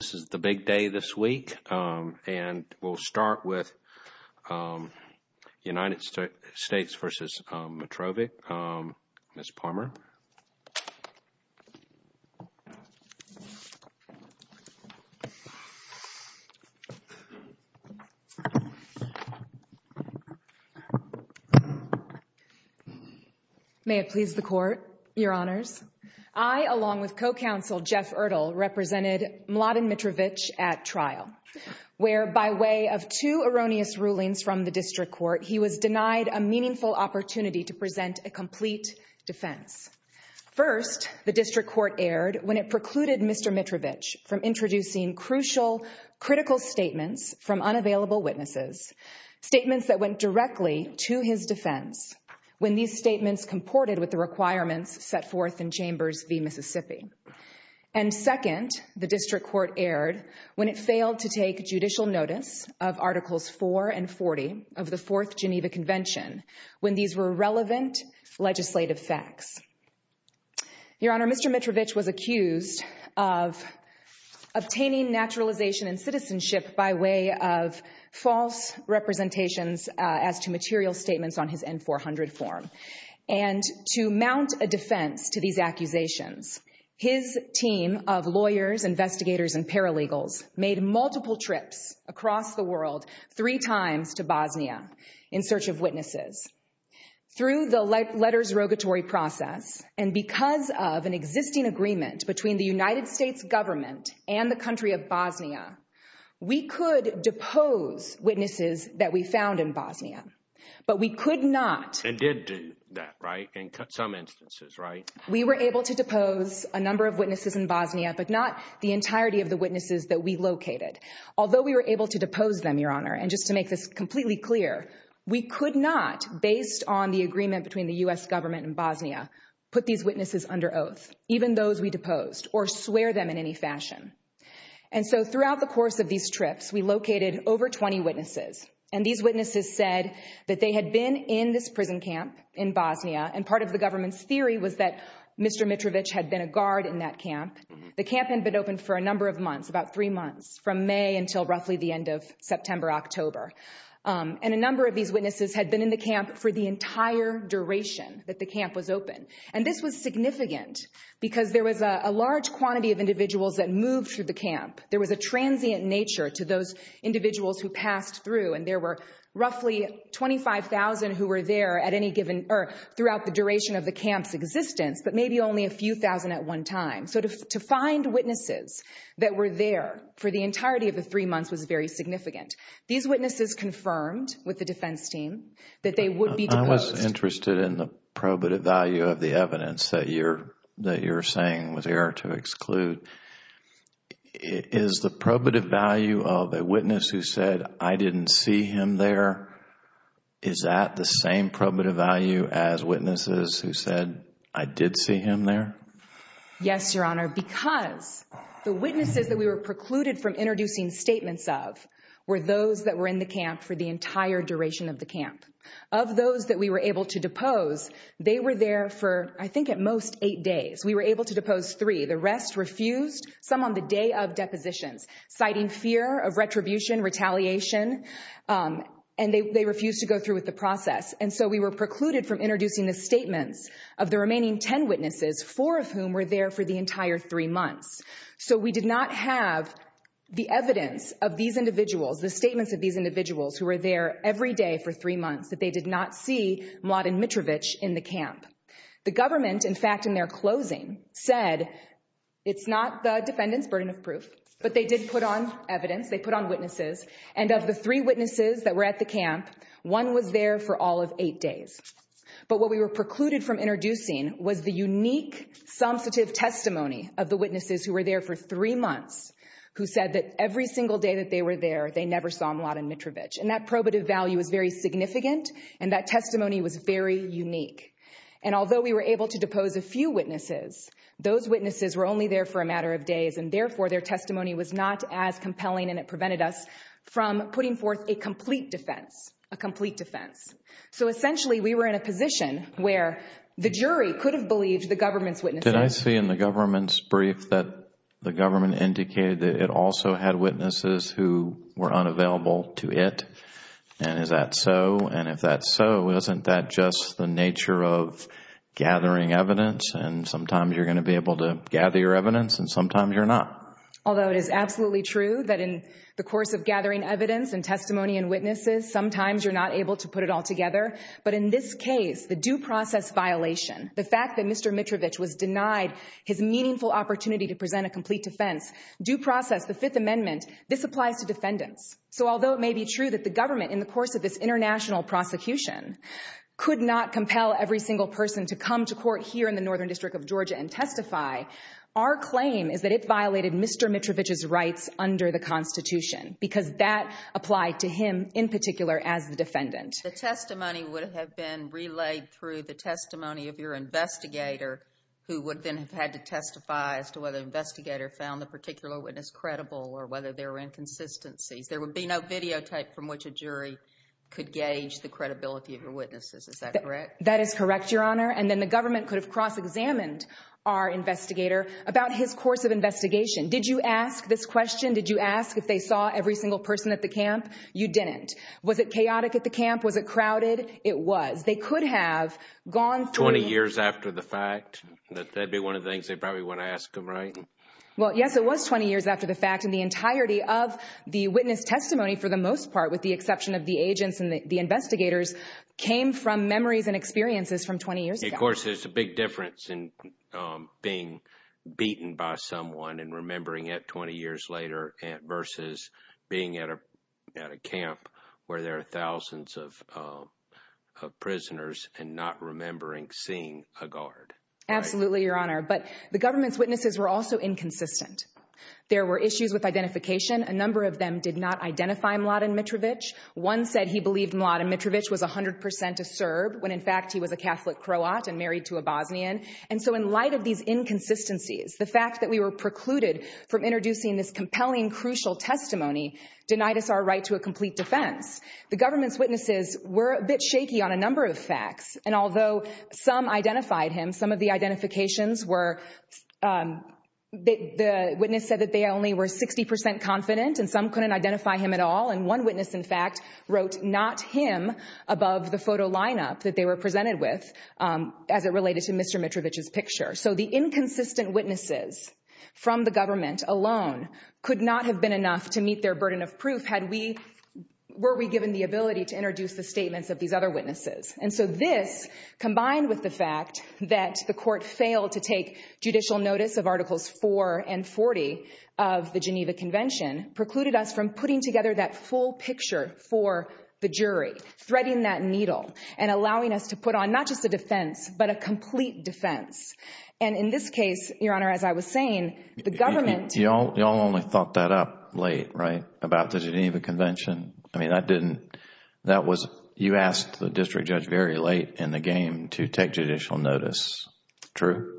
This is the big day this week, and we'll start with United States v. Mitrovic. Ms. Palmer. Ms. Palmer May it please the Court, Your Honors. I, along with co-counsel Jeff Erdl, represented Mladen Mitrovic at trial, where, by way of two erroneous rulings from the district court, he was denied a meaningful opportunity to present a complete defense. First, the district court erred when it precluded Mr. Mitrovic from introducing crucial critical statements from unavailable witnesses, statements that went directly to his defense, when these statements comported with the requirements set forth in Chambers v. Mississippi. And second, the district court erred when it failed to take judicial notice of Articles 4 and 40 of the Fourth Geneva Convention, when these were relevant legislative facts. Your Honor, Mr. Mitrovic was accused of obtaining naturalization and citizenship by way of false representations as to material statements on his N-400 form. And to mount a defense to these accusations, his team of lawyers, investigators, and paralegals made multiple trips across the world, three times to Bosnia, in search of witnesses. Through the letters rogatory process and because of an existing agreement between the United States government and the country of Bosnia, we could depose witnesses that we found in Bosnia. But we could not. And did do that, right? In some instances, right? We were able to Although we were able to depose them, Your Honor, and just to make this completely clear, we could not, based on the agreement between the U.S. government and Bosnia, put these witnesses under oath, even those we deposed, or swear them in any fashion. And so throughout the course of these trips, we located over 20 witnesses, and these witnesses said that they had been in this prison camp in Bosnia, and part of the government's theory was that Mr. Mitrovic had been a guard in that camp. The camp had been open for a number of months, about three months, from May until roughly the end of September, October. And a number of these witnesses had been in the camp for the entire duration that the camp was open. And this was significant because there was a large quantity of individuals that moved through the camp. There was a transient nature to those individuals who passed through, and there were roughly 25,000 who were there at any given, or throughout the duration of the camp's existence, but maybe only a few thousand at one time. So to find witnesses that were there for the entirety of the three months was very significant. These witnesses confirmed with the defense team that they would be deposed. I was interested in the probative value of the evidence that you're saying was error to exclude. Is the probative value of a witness who said, I didn't see him there, is that the same probative value as witnesses who said, I did see him there? Yes, Your Honor, because the witnesses that we were precluded from introducing statements of were those that were in the camp for the entire duration of the camp. Of those that we were able to depose, they were there for, I think at most, eight days. We were able to depose three. The rest refused, some on the day of depositions, citing fear of retribution, retaliation, and they refused to go through with the process. And so we were precluded from introducing the statements of the remaining ten witnesses, four of whom were there for the entire three months. So we did not have the evidence of these individuals, the statements of these individuals who were there every day for three months, that they did not see Mladen Mitrovic in the camp. The government, in fact, in their closing, said it's not the defendant's burden of proof, but they did put on evidence, they put on witnesses, and of the three witnesses that were at the camp, one was there for all of eight days. But what we were precluded from introducing was the unique, substantive testimony of the witnesses who were there for three months, who said that every single day that they were there, they never saw Mladen Mitrovic. And that probative value was very significant, and that testimony was very unique. And although we were able to depose a few witnesses, those witnesses were only there for a matter of days, and therefore their testimony was not as compelling and it prevented us from putting forth a complete defense, a complete defense. So essentially we were in a position where the jury could have believed the government's witnesses. Did I see in the government's brief that the government indicated that it also had witnesses who were unavailable to it? And is that so? And if that's so, isn't that just the nature of gathering evidence? And sometimes you're going to be able to gather your evidence and sometimes you're not. Although it is absolutely true that in the course of gathering evidence and testimony and witnesses, sometimes you're not able to put it all together. But in this case, the due process violation, the fact that Mr. Mitrovic was denied his meaningful opportunity to present a complete defense, due process, the Fifth Amendment, this applies to defendants. So although it may be true that the government, in the course of this international prosecution, could not compel every single person to come to court here in the Northern District of Mr. Mitrovic's rights under the Constitution, because that applied to him in particular as the defendant. The testimony would have been relayed through the testimony of your investigator, who would then have had to testify as to whether the investigator found the particular witness credible or whether there were inconsistencies. There would be no videotape from which a jury could gauge the credibility of your witnesses. Is that correct? That is correct, Your Honor. And then the government could have cross-examined our investigator about his course of investigation. Did you ask this question? Did you ask if they saw every single person at the camp? You didn't. Was it chaotic at the camp? Was it crowded? It was. They could have gone through— Twenty years after the fact? That'd be one of the things they probably would have asked him, right? Well, yes, it was 20 years after the fact. And the entirety of the witness testimony, for the most part, with the exception of the agents and the investigators, came from memories and experiences from 20 years ago. Of course, there's a big difference in being beaten by someone and remembering it 20 years later versus being at a camp where there are thousands of prisoners and not remembering seeing a guard. Absolutely, Your Honor. But the government's witnesses were also inconsistent. There were issues with identification. A number of them did not identify Mladen Mitrovic. One said he believed Mladen Mitrovic was 100% a Serb, when in fact he was a Catholic Croat and married to a Bosnian. And so in light of these inconsistencies, the fact that we were precluded from introducing this compelling, crucial testimony denied us our right to a complete defense. The government's witnesses were a bit shaky on a number of facts. And although some identified him, some of the identifications were—the witness said that they only were 60% confident and some couldn't identify him at all. And one witness, in fact, wrote not him above the photo lineup that they were presented with as it related to Mr. Mitrovic's picture. So the inconsistent witnesses from the government alone could not have been enough to meet their burden of proof had we—were we given the ability to introduce the statements of these other witnesses. And so this, combined with the fact that the Court failed to take judicial notice of Articles 4 and 40 of the Geneva Convention, precluded us from putting together that full picture for the jury, threading that needle, and allowing us to put on not just a defense, but a complete defense. And in this case, Your Honor, as I was saying, the government— Y'all only thought that up late, right, about the Geneva Convention? I mean, that didn't—that was—you asked the district judge very late in the game to take judicial notice. True?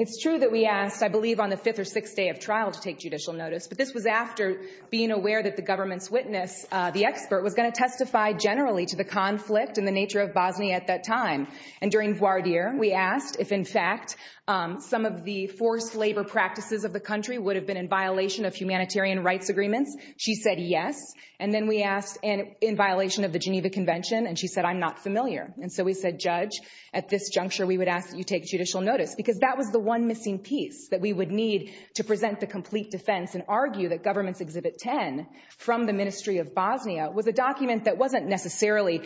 It's true that we asked, I believe, on the fifth or sixth day of trial to take judicial notice, but this was after being aware that the government's witness, the expert, was going to testify generally to the conflict and the nature of Bosnia at that time. And during voir dire, we asked if, in fact, some of the forced labor practices of the country would have been in violation of humanitarian rights agreements. She said yes. And then we asked in violation of the Geneva Convention, and she said, I'm not familiar. And so we said, Judge, at this juncture, we would ask that you take judicial notice, because that was the one missing piece that we would need to present the complete defense and argue that Government's Exhibit 10 from the Ministry of Bosnia was a document that wasn't necessarily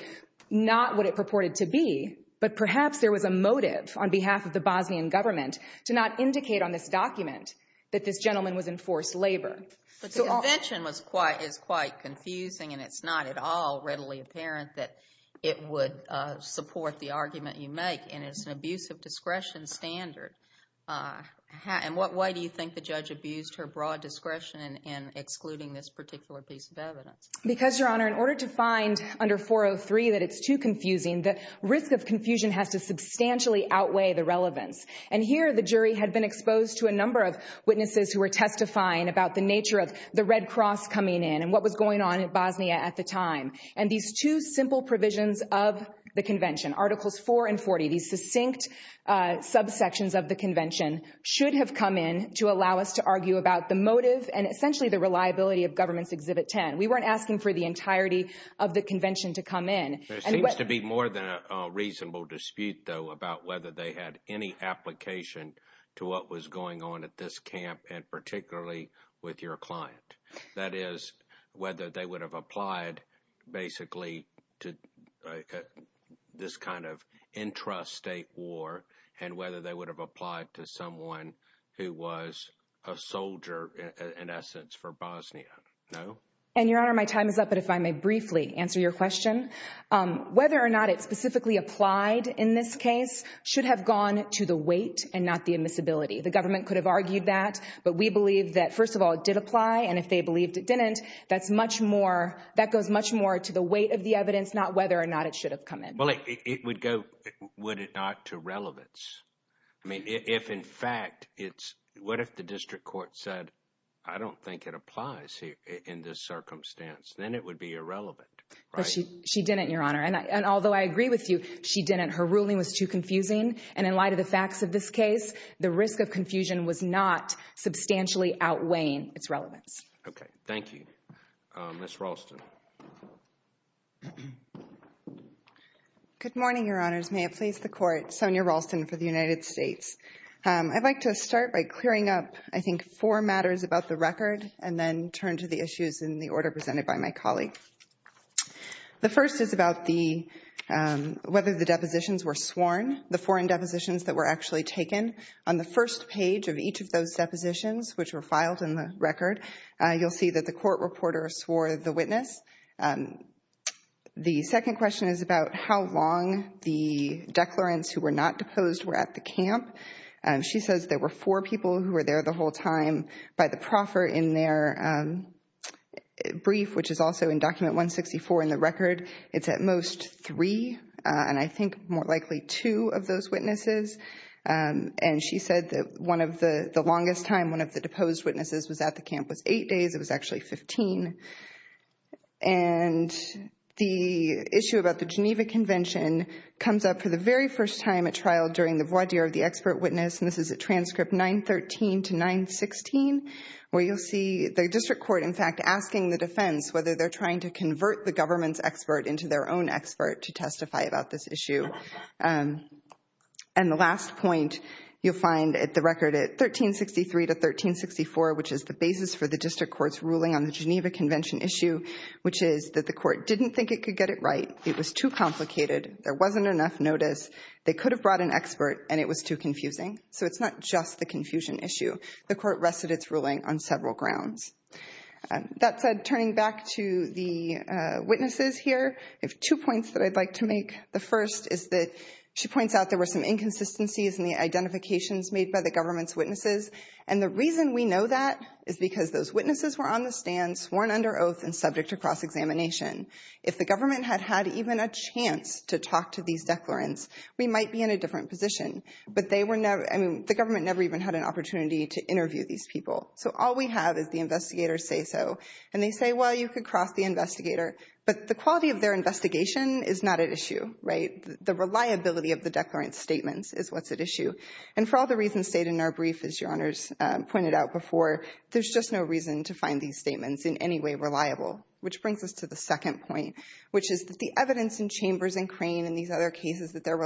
not what it purported to be, but perhaps there was a motive on behalf of the Bosnian government to not indicate on this document that this gentleman was in forced labor. But the convention was quite—is quite confusing, and it's not at all readily apparent that it would support the argument you make. And it's an abuse of discretion standard. In what way do you think the judge abused her broad discretion in excluding this particular piece of evidence? Because, Your Honor, in order to find under 403 that it's too confusing, the risk of confusion has to substantially outweigh the relevance. And here, the jury had been exposed to a number of witnesses who were testifying about the nature of the Red Cross coming in and what was going on in Bosnia at the time. And these two simple provisions of the convention, Articles 4 and 40, these succinct subsections of the convention, should have come in to allow us to argue about the motive and essentially the reliability of Government's Exhibit 10. We weren't asking for the entirety of the convention to come in. There seems to be more than a reasonable dispute, though, about whether they had any application to what was going on at this camp and particularly with your client. That is, whether they would have applied basically to this kind of intrastate war and whether they would have applied to someone who was a soldier, in essence, for Bosnia. No? And Your Honor, my time is up, but if I may briefly answer your question. Whether or not it specifically applied in this case should have gone to the weight and not the admissibility. The government could have argued that, but we believe that, first of all, it did apply, and if they believed it didn't, that goes much more to the weight of the evidence, not whether or not it should have come in. Well, it would go, would it not, to relevance? I mean, if in fact it's, what if the District Court said, I don't think it applies in this circumstance? Then it would be irrelevant, right? She didn't, Your Honor, and although I agree with you, she didn't. Her ruling was too confusing, and in light of the facts of this case, the risk of confusion was not substantially outweighing its relevance. Okay, thank you. Ms. Ralston. Good morning, Your Honors. May it please the Court, Sonia Ralston for the United States. I'd like to start by clearing up, I think, four matters about the record and then turn to the issues in the order presented by my colleague. The first is about the, whether the depositions were sworn, the foreign depositions that were actually taken. On the first page of each of those depositions, which were filed in the record, you'll see that the court reporter swore the witness. The second question is about how long the declarants who were not deposed were at the camp. She says there were four people who were there the whole time by the proffer in their brief, which is also in Document 164 in the record. It's at most three, and I think more likely two of those witnesses. And she said that one of the longest time one of the deposed witnesses was at the camp was eight days. It was actually 15. And the issue about the Geneva Convention comes up for the very first time at trial during the voir dire of the expert witness, and this is at transcript 913 to 916, where you'll see the district court, in fact, asking the defense whether they're trying to convert the government's expert into their own expert to testify about this issue. And the last point you'll find at the record at 1363 to 1364, which is the basis for the district court's ruling on the Geneva Convention issue, which is that the court didn't think it could get it right. It was too complicated. There wasn't enough notice. They could have brought an expert, and it was too confusing. So it's not just the confusion issue. The court has several grounds. That said, turning back to the witnesses here, I have two points that I'd like to make. The first is that she points out there were some inconsistencies in the identifications made by the government's witnesses, and the reason we know that is because those witnesses were on the stand, sworn under oath, and subject to cross-examination. If the government had had even a chance to talk to these declarants, we might be in a different position, but they were never—I mean, the government never even had an opportunity to interview these people. So all we have is the investigators say so, and they say, well, you could cross the investigator. But the quality of their investigation is not at issue, right? The reliability of the declarant's statements is what's at issue. And for all the reasons stated in our brief, as Your Honors pointed out before, there's just no reason to find these statements in any way reliable, which brings us to the second point, which is that the evidence in Chambers and Crane and these other cases that they're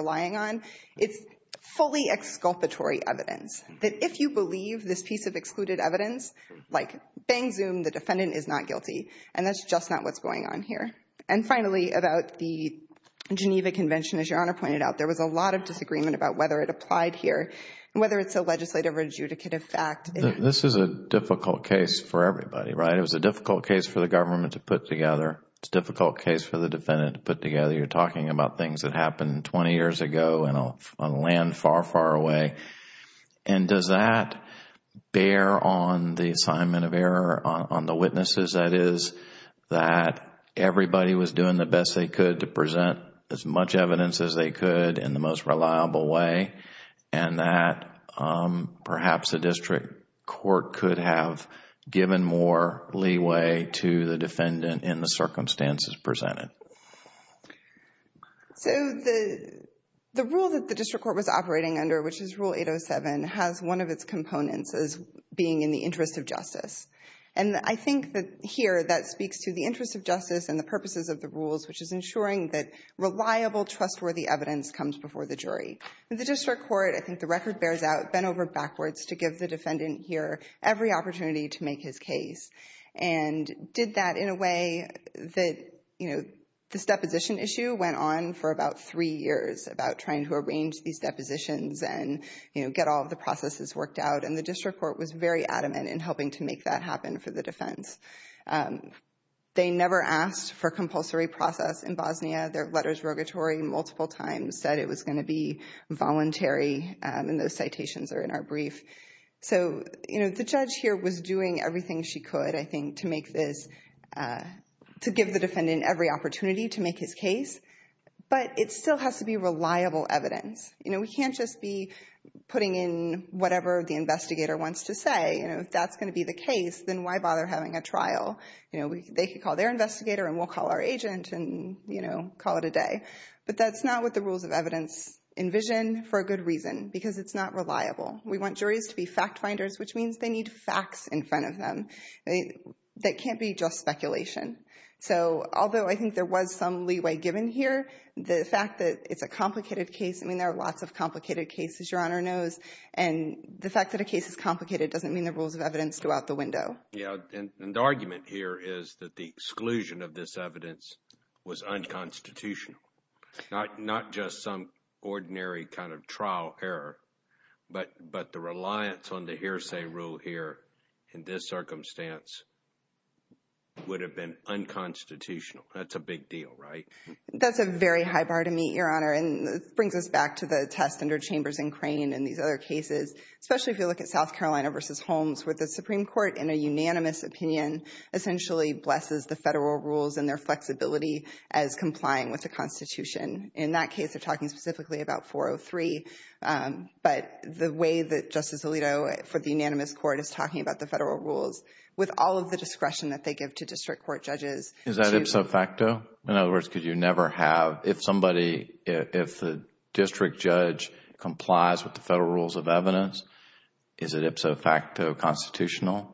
believe this piece of excluded evidence, like, bang, zoom, the defendant is not guilty. And that's just not what's going on here. And finally, about the Geneva Convention, as Your Honor pointed out, there was a lot of disagreement about whether it applied here and whether it's a legislative or adjudicative fact. This is a difficult case for everybody, right? It was a difficult case for the government to put together. It's a difficult case for the defendant to put together. You're talking about things that happened 20 years ago on land far, far away. And does that bear on the assignment of error on the witnesses, that is, that everybody was doing the best they could to present as much evidence as they could in the most reliable way and that perhaps the district court could have given more leeway to the defendant in the circumstances presented? So the rule that the district court was operating under, which is Rule 807, has one of its components as being in the interest of justice. And I think that here that speaks to the interest of justice and the purposes of the rules, which is ensuring that reliable, trustworthy evidence comes before the jury. In the district court, I think the record bears out, bent over backwards to give the This deposition issue went on for about three years, about trying to arrange these depositions and get all of the processes worked out. And the district court was very adamant in helping to make that happen for the defense. They never asked for compulsory process in Bosnia. Their letters rogatory multiple times said it was going to be voluntary, and those citations are in our brief. So the judge here was doing everything she could, I think, to make this, to give the jury an opportunity to make his case. But it still has to be reliable evidence. We can't just be putting in whatever the investigator wants to say. If that's going to be the case, then why bother having a trial? They could call their investigator, and we'll call our agent and call it a day. But that's not what the rules of evidence envision, for a good reason, because it's not reliable. We want juries to be fact finders, which means they need facts in front of them. That can't be just speculation. So although I think there was some leeway given here, the fact that it's a complicated case, I mean, there are lots of complicated cases, Your Honor knows, and the fact that a case is complicated doesn't mean the rules of evidence go out the window. Yeah, and the argument here is that the exclusion of this evidence was unconstitutional, not just some ordinary kind of trial error, but the reliance on the hearsay rule here in this circumstance would have been unconstitutional. That's a big deal, right? That's a very high bar to meet, Your Honor, and it brings us back to the test under Chambers and Crane and these other cases, especially if you look at South Carolina v. Holmes, where the Supreme Court, in a unanimous opinion, essentially blesses the federal rules and their flexibility as complying with the Constitution. In that case, they're talking specifically about 403, but the way that Justice Alito, for the unanimous court, is talking about the federal rules with all of the discretion that they give to district court judges. Is that ipso facto? In other words, could you never have, if somebody, if the district judge complies with the federal rules of evidence, is it ipso facto constitutional?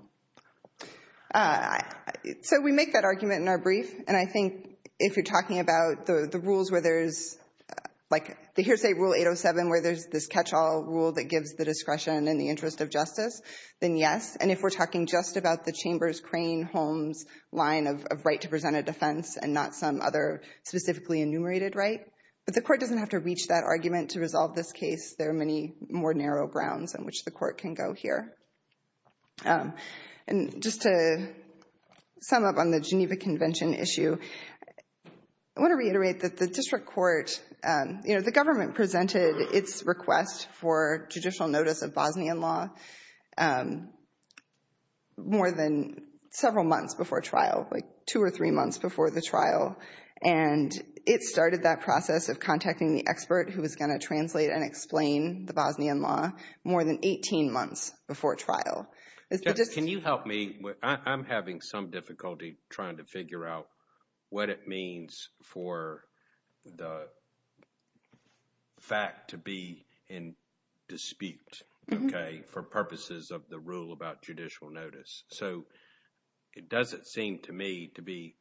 So we make that argument in our brief, and I think if you're talking about the rules where there's like the hearsay rule 807, where there's this catch-all rule that gives the we're talking just about the Chambers-Crane-Holmes line of right to present a defense and not some other specifically enumerated right. But the court doesn't have to reach that argument to resolve this case. There are many more narrow grounds on which the court can go here. And just to sum up on the Geneva Convention issue, I want to reiterate that the district more than several months before trial, like two or three months before the trial, and it started that process of contacting the expert who was going to translate and explain the Bosnian law more than 18 months before trial. Can you help me? I'm having some difficulty trying to figure out what it means for the fact to be in dispute, okay, for purposes of the rule about judicial notice. So it doesn't seem to me to be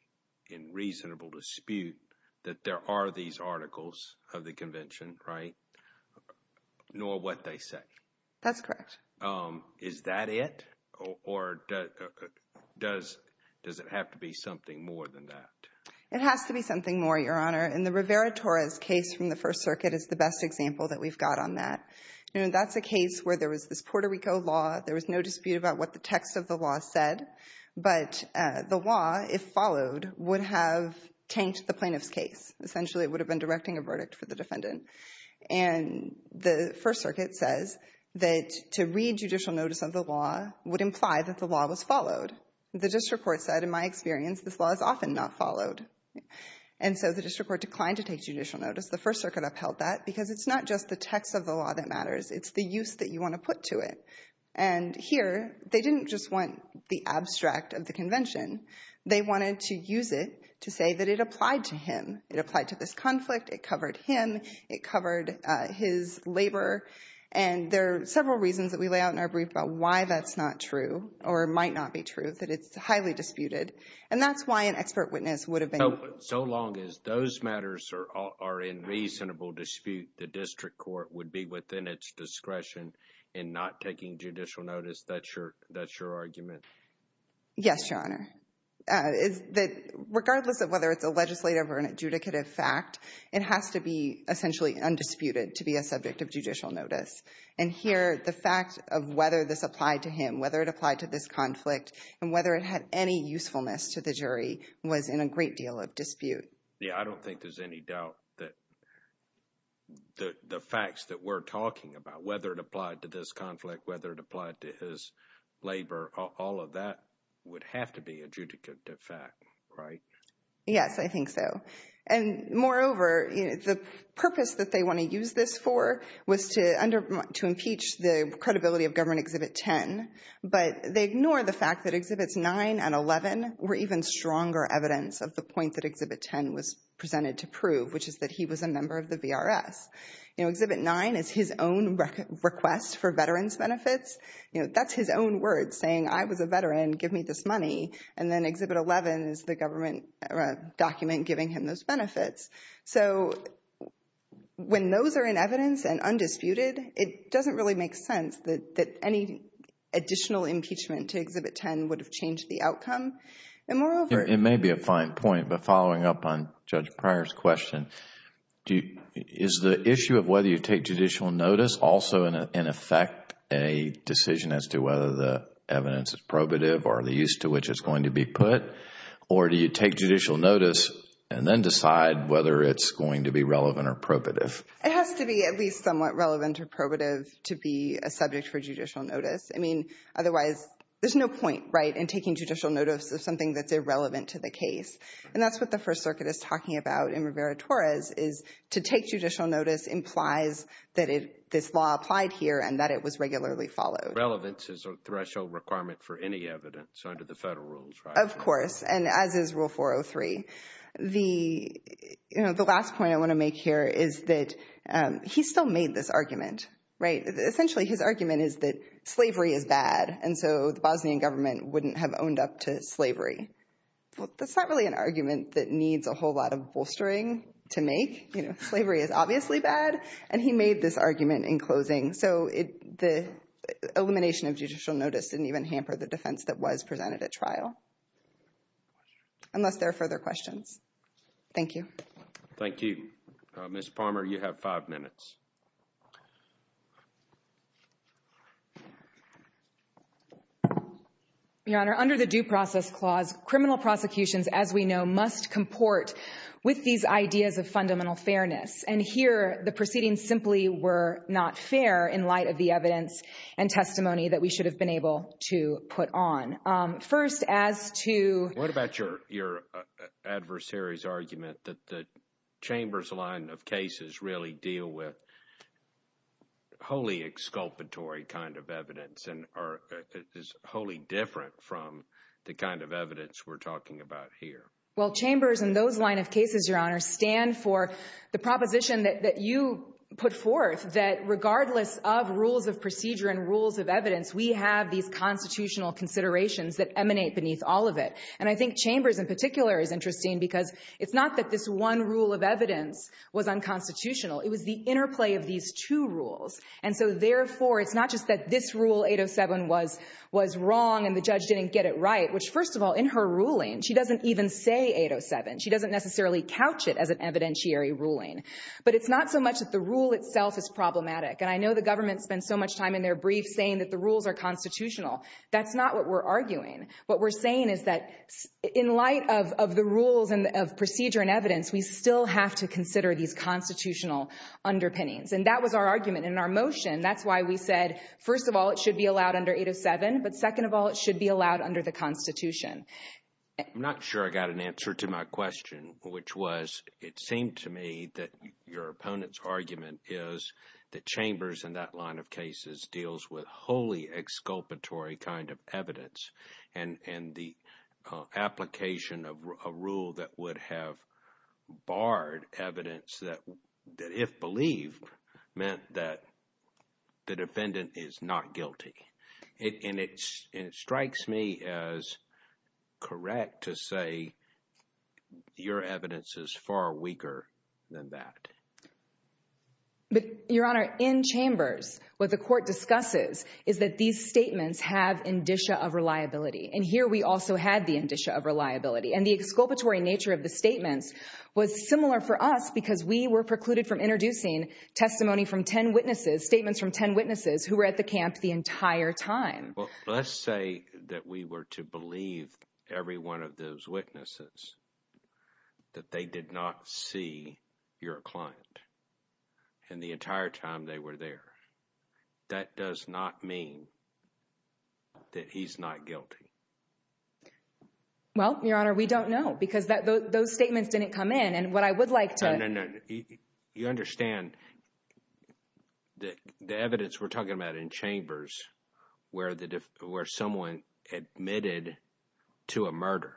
in reasonable dispute that there are these articles of the convention, right? Nor what they say. That's correct. Is that it? Or does it have to be something more than that? It has to be something more, Your Honor. And the Rivera-Torres case from the First Circuit is the best example that we've got on that. You know, that's a case where there was this Puerto Rico law. There was no dispute about what the text of the law said. But the law, if followed, would have tanked the plaintiff's case. Essentially, it would have been directing a verdict for the defendant. And the First Circuit says that to read judicial notice of the law would imply that the law was followed. The district court said, in my experience, this law is often not followed. And so the district court declined to take judicial notice. The First Circuit upheld that because it's not just the text of the law that matters. It's the use that you want to put to it. And here, they didn't just want the abstract of the convention. They wanted to use it to say that it applied to him. It applied to this conflict. It covered him. It covered his labor. And there are several reasons that we lay out in our brief about why that's not true or might not be true, that it's highly disputed. And that's why an expert witness would have been— So long as those matters are in reasonable dispute, the district court would be within its discretion in not taking judicial notice. That's your argument? Yes, Your Honor. Regardless of whether it's a legislative or an adjudicative fact, it has to be essentially undisputed to be a subject of judicial notice. And here, the fact of whether this applied to him, whether it applied to this conflict, and whether it had any usefulness to the jury was in a great deal of dispute. Yeah, I don't think there's any doubt that the facts that we're talking about, whether it applied to this conflict, whether it applied to his labor, all of that would have to be adjudicative fact, right? Yes, I think so. And moreover, the purpose that they want to use this for was to impeach the credibility of Government Exhibit 10. But they ignore the fact that Exhibits 9 and 11 were even stronger evidence of the point that Exhibit 10 was presented to prove, which is that he was a member of the VRS. Exhibit 9 is his own request for veterans' benefits. That's his own words saying, I was a veteran, give me this money. And then Exhibit 11 is the government document giving him those benefits. So, when those are in evidence and undisputed, it doesn't really make sense that any additional impeachment to Exhibit 10 would have changed the outcome. And moreover... It may be a fine point, but following up on Judge Pryor's question, is the issue of whether you take judicial notice also, in effect, a decision as to whether the evidence is probative or the use to which it's going to be put? Or do you take judicial notice and then decide whether it's going to be relevant or probative? It has to be at least somewhat relevant or probative to be a subject for judicial notice. I mean, otherwise, there's no point, right, in taking judicial notice of something that's irrelevant to the case. And that's what the First Circuit is talking about in Rivera-Torres is to take judicial notice implies that this law applied here and that it was regularly followed. Relevance is a threshold requirement for any evidence under the federal rules, right? Of course, and as is Rule 403. The last point I want to make here is that he still made this argument, right? Essentially, his argument is that slavery is bad, and so the Bosnian government wouldn't have owned up to slavery. Well, that's not really an argument that needs a whole lot of bolstering to make. You know, slavery is obviously bad, and he made this argument in closing. So the elimination of judicial notice didn't even hamper the defense that was presented at trial, unless there are further questions. Thank you. Thank you. Ms. Palmer, you have five minutes. Your Honor, under the Due Process Clause, criminal prosecutions, as we know, must comport with these ideas of fundamental fairness. And here, the proceedings simply were not fair in light of the evidence and testimony that we should have been able to put on. First, as to— What about your adversary's argument that the Chambers line of cases really deal with wholly exculpatory kind of evidence and is wholly different from the kind of evidence we're talking about here? Well, Chambers and those line of cases, Your Honor, stand for the proposition that you put forth, that regardless of rules of procedure and rules of evidence, we have these constitutional considerations that emanate beneath all of it. And I think Chambers in particular is interesting because it's not that this one rule of evidence was unconstitutional. It was the interplay of these two rules. And so therefore, it's not just that this rule, 807, was wrong and the judge didn't get it right, which, first of all, in her ruling, she doesn't even say 807. She doesn't necessarily couch it as an evidentiary ruling. But it's not so much that the rule itself is problematic. And I know the government spends so much time in their briefs saying that the rules are constitutional. That's not what we're arguing. What we're saying is that in light of the rules of procedure and evidence, we still have to consider these constitutional underpinnings. And that was our argument in our motion. That's why we said, first of all, it should be allowed under 807, but second of all, it should be allowed under the Constitution. I'm not sure I got an answer to my question, which was, it seemed to me that your opponent's argument is that Chambers in that line of cases deals with wholly exculpatory kind of evidence. And the application of a rule that would have barred evidence that if believed to have meant that the defendant is not guilty. And it strikes me as correct to say your evidence is far weaker than that. But, Your Honor, in Chambers, what the court discusses is that these statements have indicia of reliability. And here we also had the indicia of reliability. And the exculpatory nature of the statements was similar for us because we were precluded from introducing testimony from 10 witnesses, statements from 10 witnesses who were at the camp the entire time. Well, let's say that we were to believe every one of those witnesses that they did not see your client and the entire time they were there. That does not mean that he's not guilty. Well, Your Honor, we don't know because those statements didn't come in. And what I would like to... No, no, no. You understand the evidence we're talking about in Chambers where someone admitted to a murder,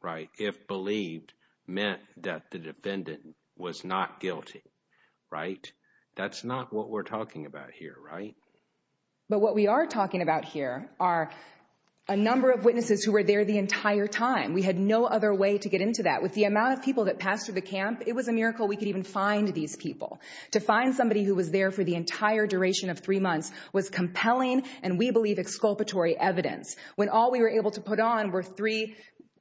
right, if believed meant that the defendant was not guilty, right? That's not what we're talking about here, right? But what we are talking about here are a number of witnesses who were there the entire time. We had no other way to get into that. With the amount of people that passed through the camp, it was a miracle we could even find these people. To find somebody who was there for the entire duration of three months was compelling and, we believe, exculpatory evidence. When all we were able to put on were three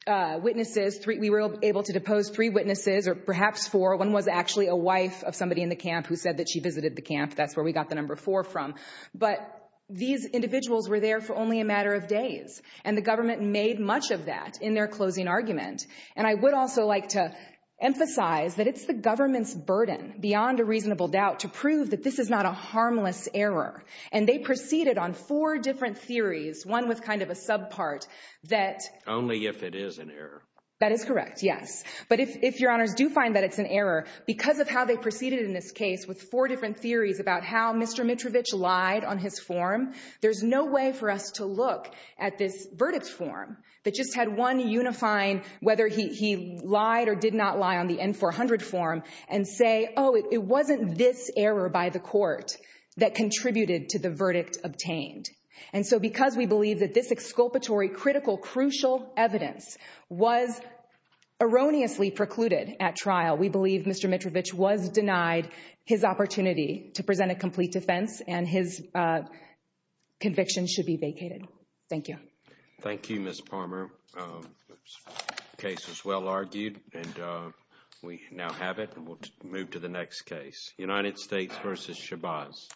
witnesses, we were able to depose three witnesses or perhaps four. One was actually a wife of somebody in the camp who said that she visited the camp. That's where we got the number four from. But these individuals were there for only a matter of days. And the government made much of that in their closing argument. And I would also like to emphasize that it's the government's burden beyond a reasonable doubt to prove that this is not a harmless error. And they proceeded on four different theories, one with kind of a subpart that... Only if it is an error. That is correct, yes. But if Your Honors do find that it's an error, because of how they Mr. Mitrovich lied on his form, there's no way for us to look at this verdict form that just had one unifying whether he lied or did not lie on the N-400 form and say, oh, it wasn't this error by the court that contributed to the verdict obtained. And so because we believe that this exculpatory, critical, crucial evidence was erroneously precluded at trial, we believe Mr. Mitrovich was denied his opportunity to present a complete defense and his conviction should be vacated. Thank you. Thank you, Ms. Palmer. Case was well argued, and we now have it. And we'll move to the next case, United States v. Shabazz.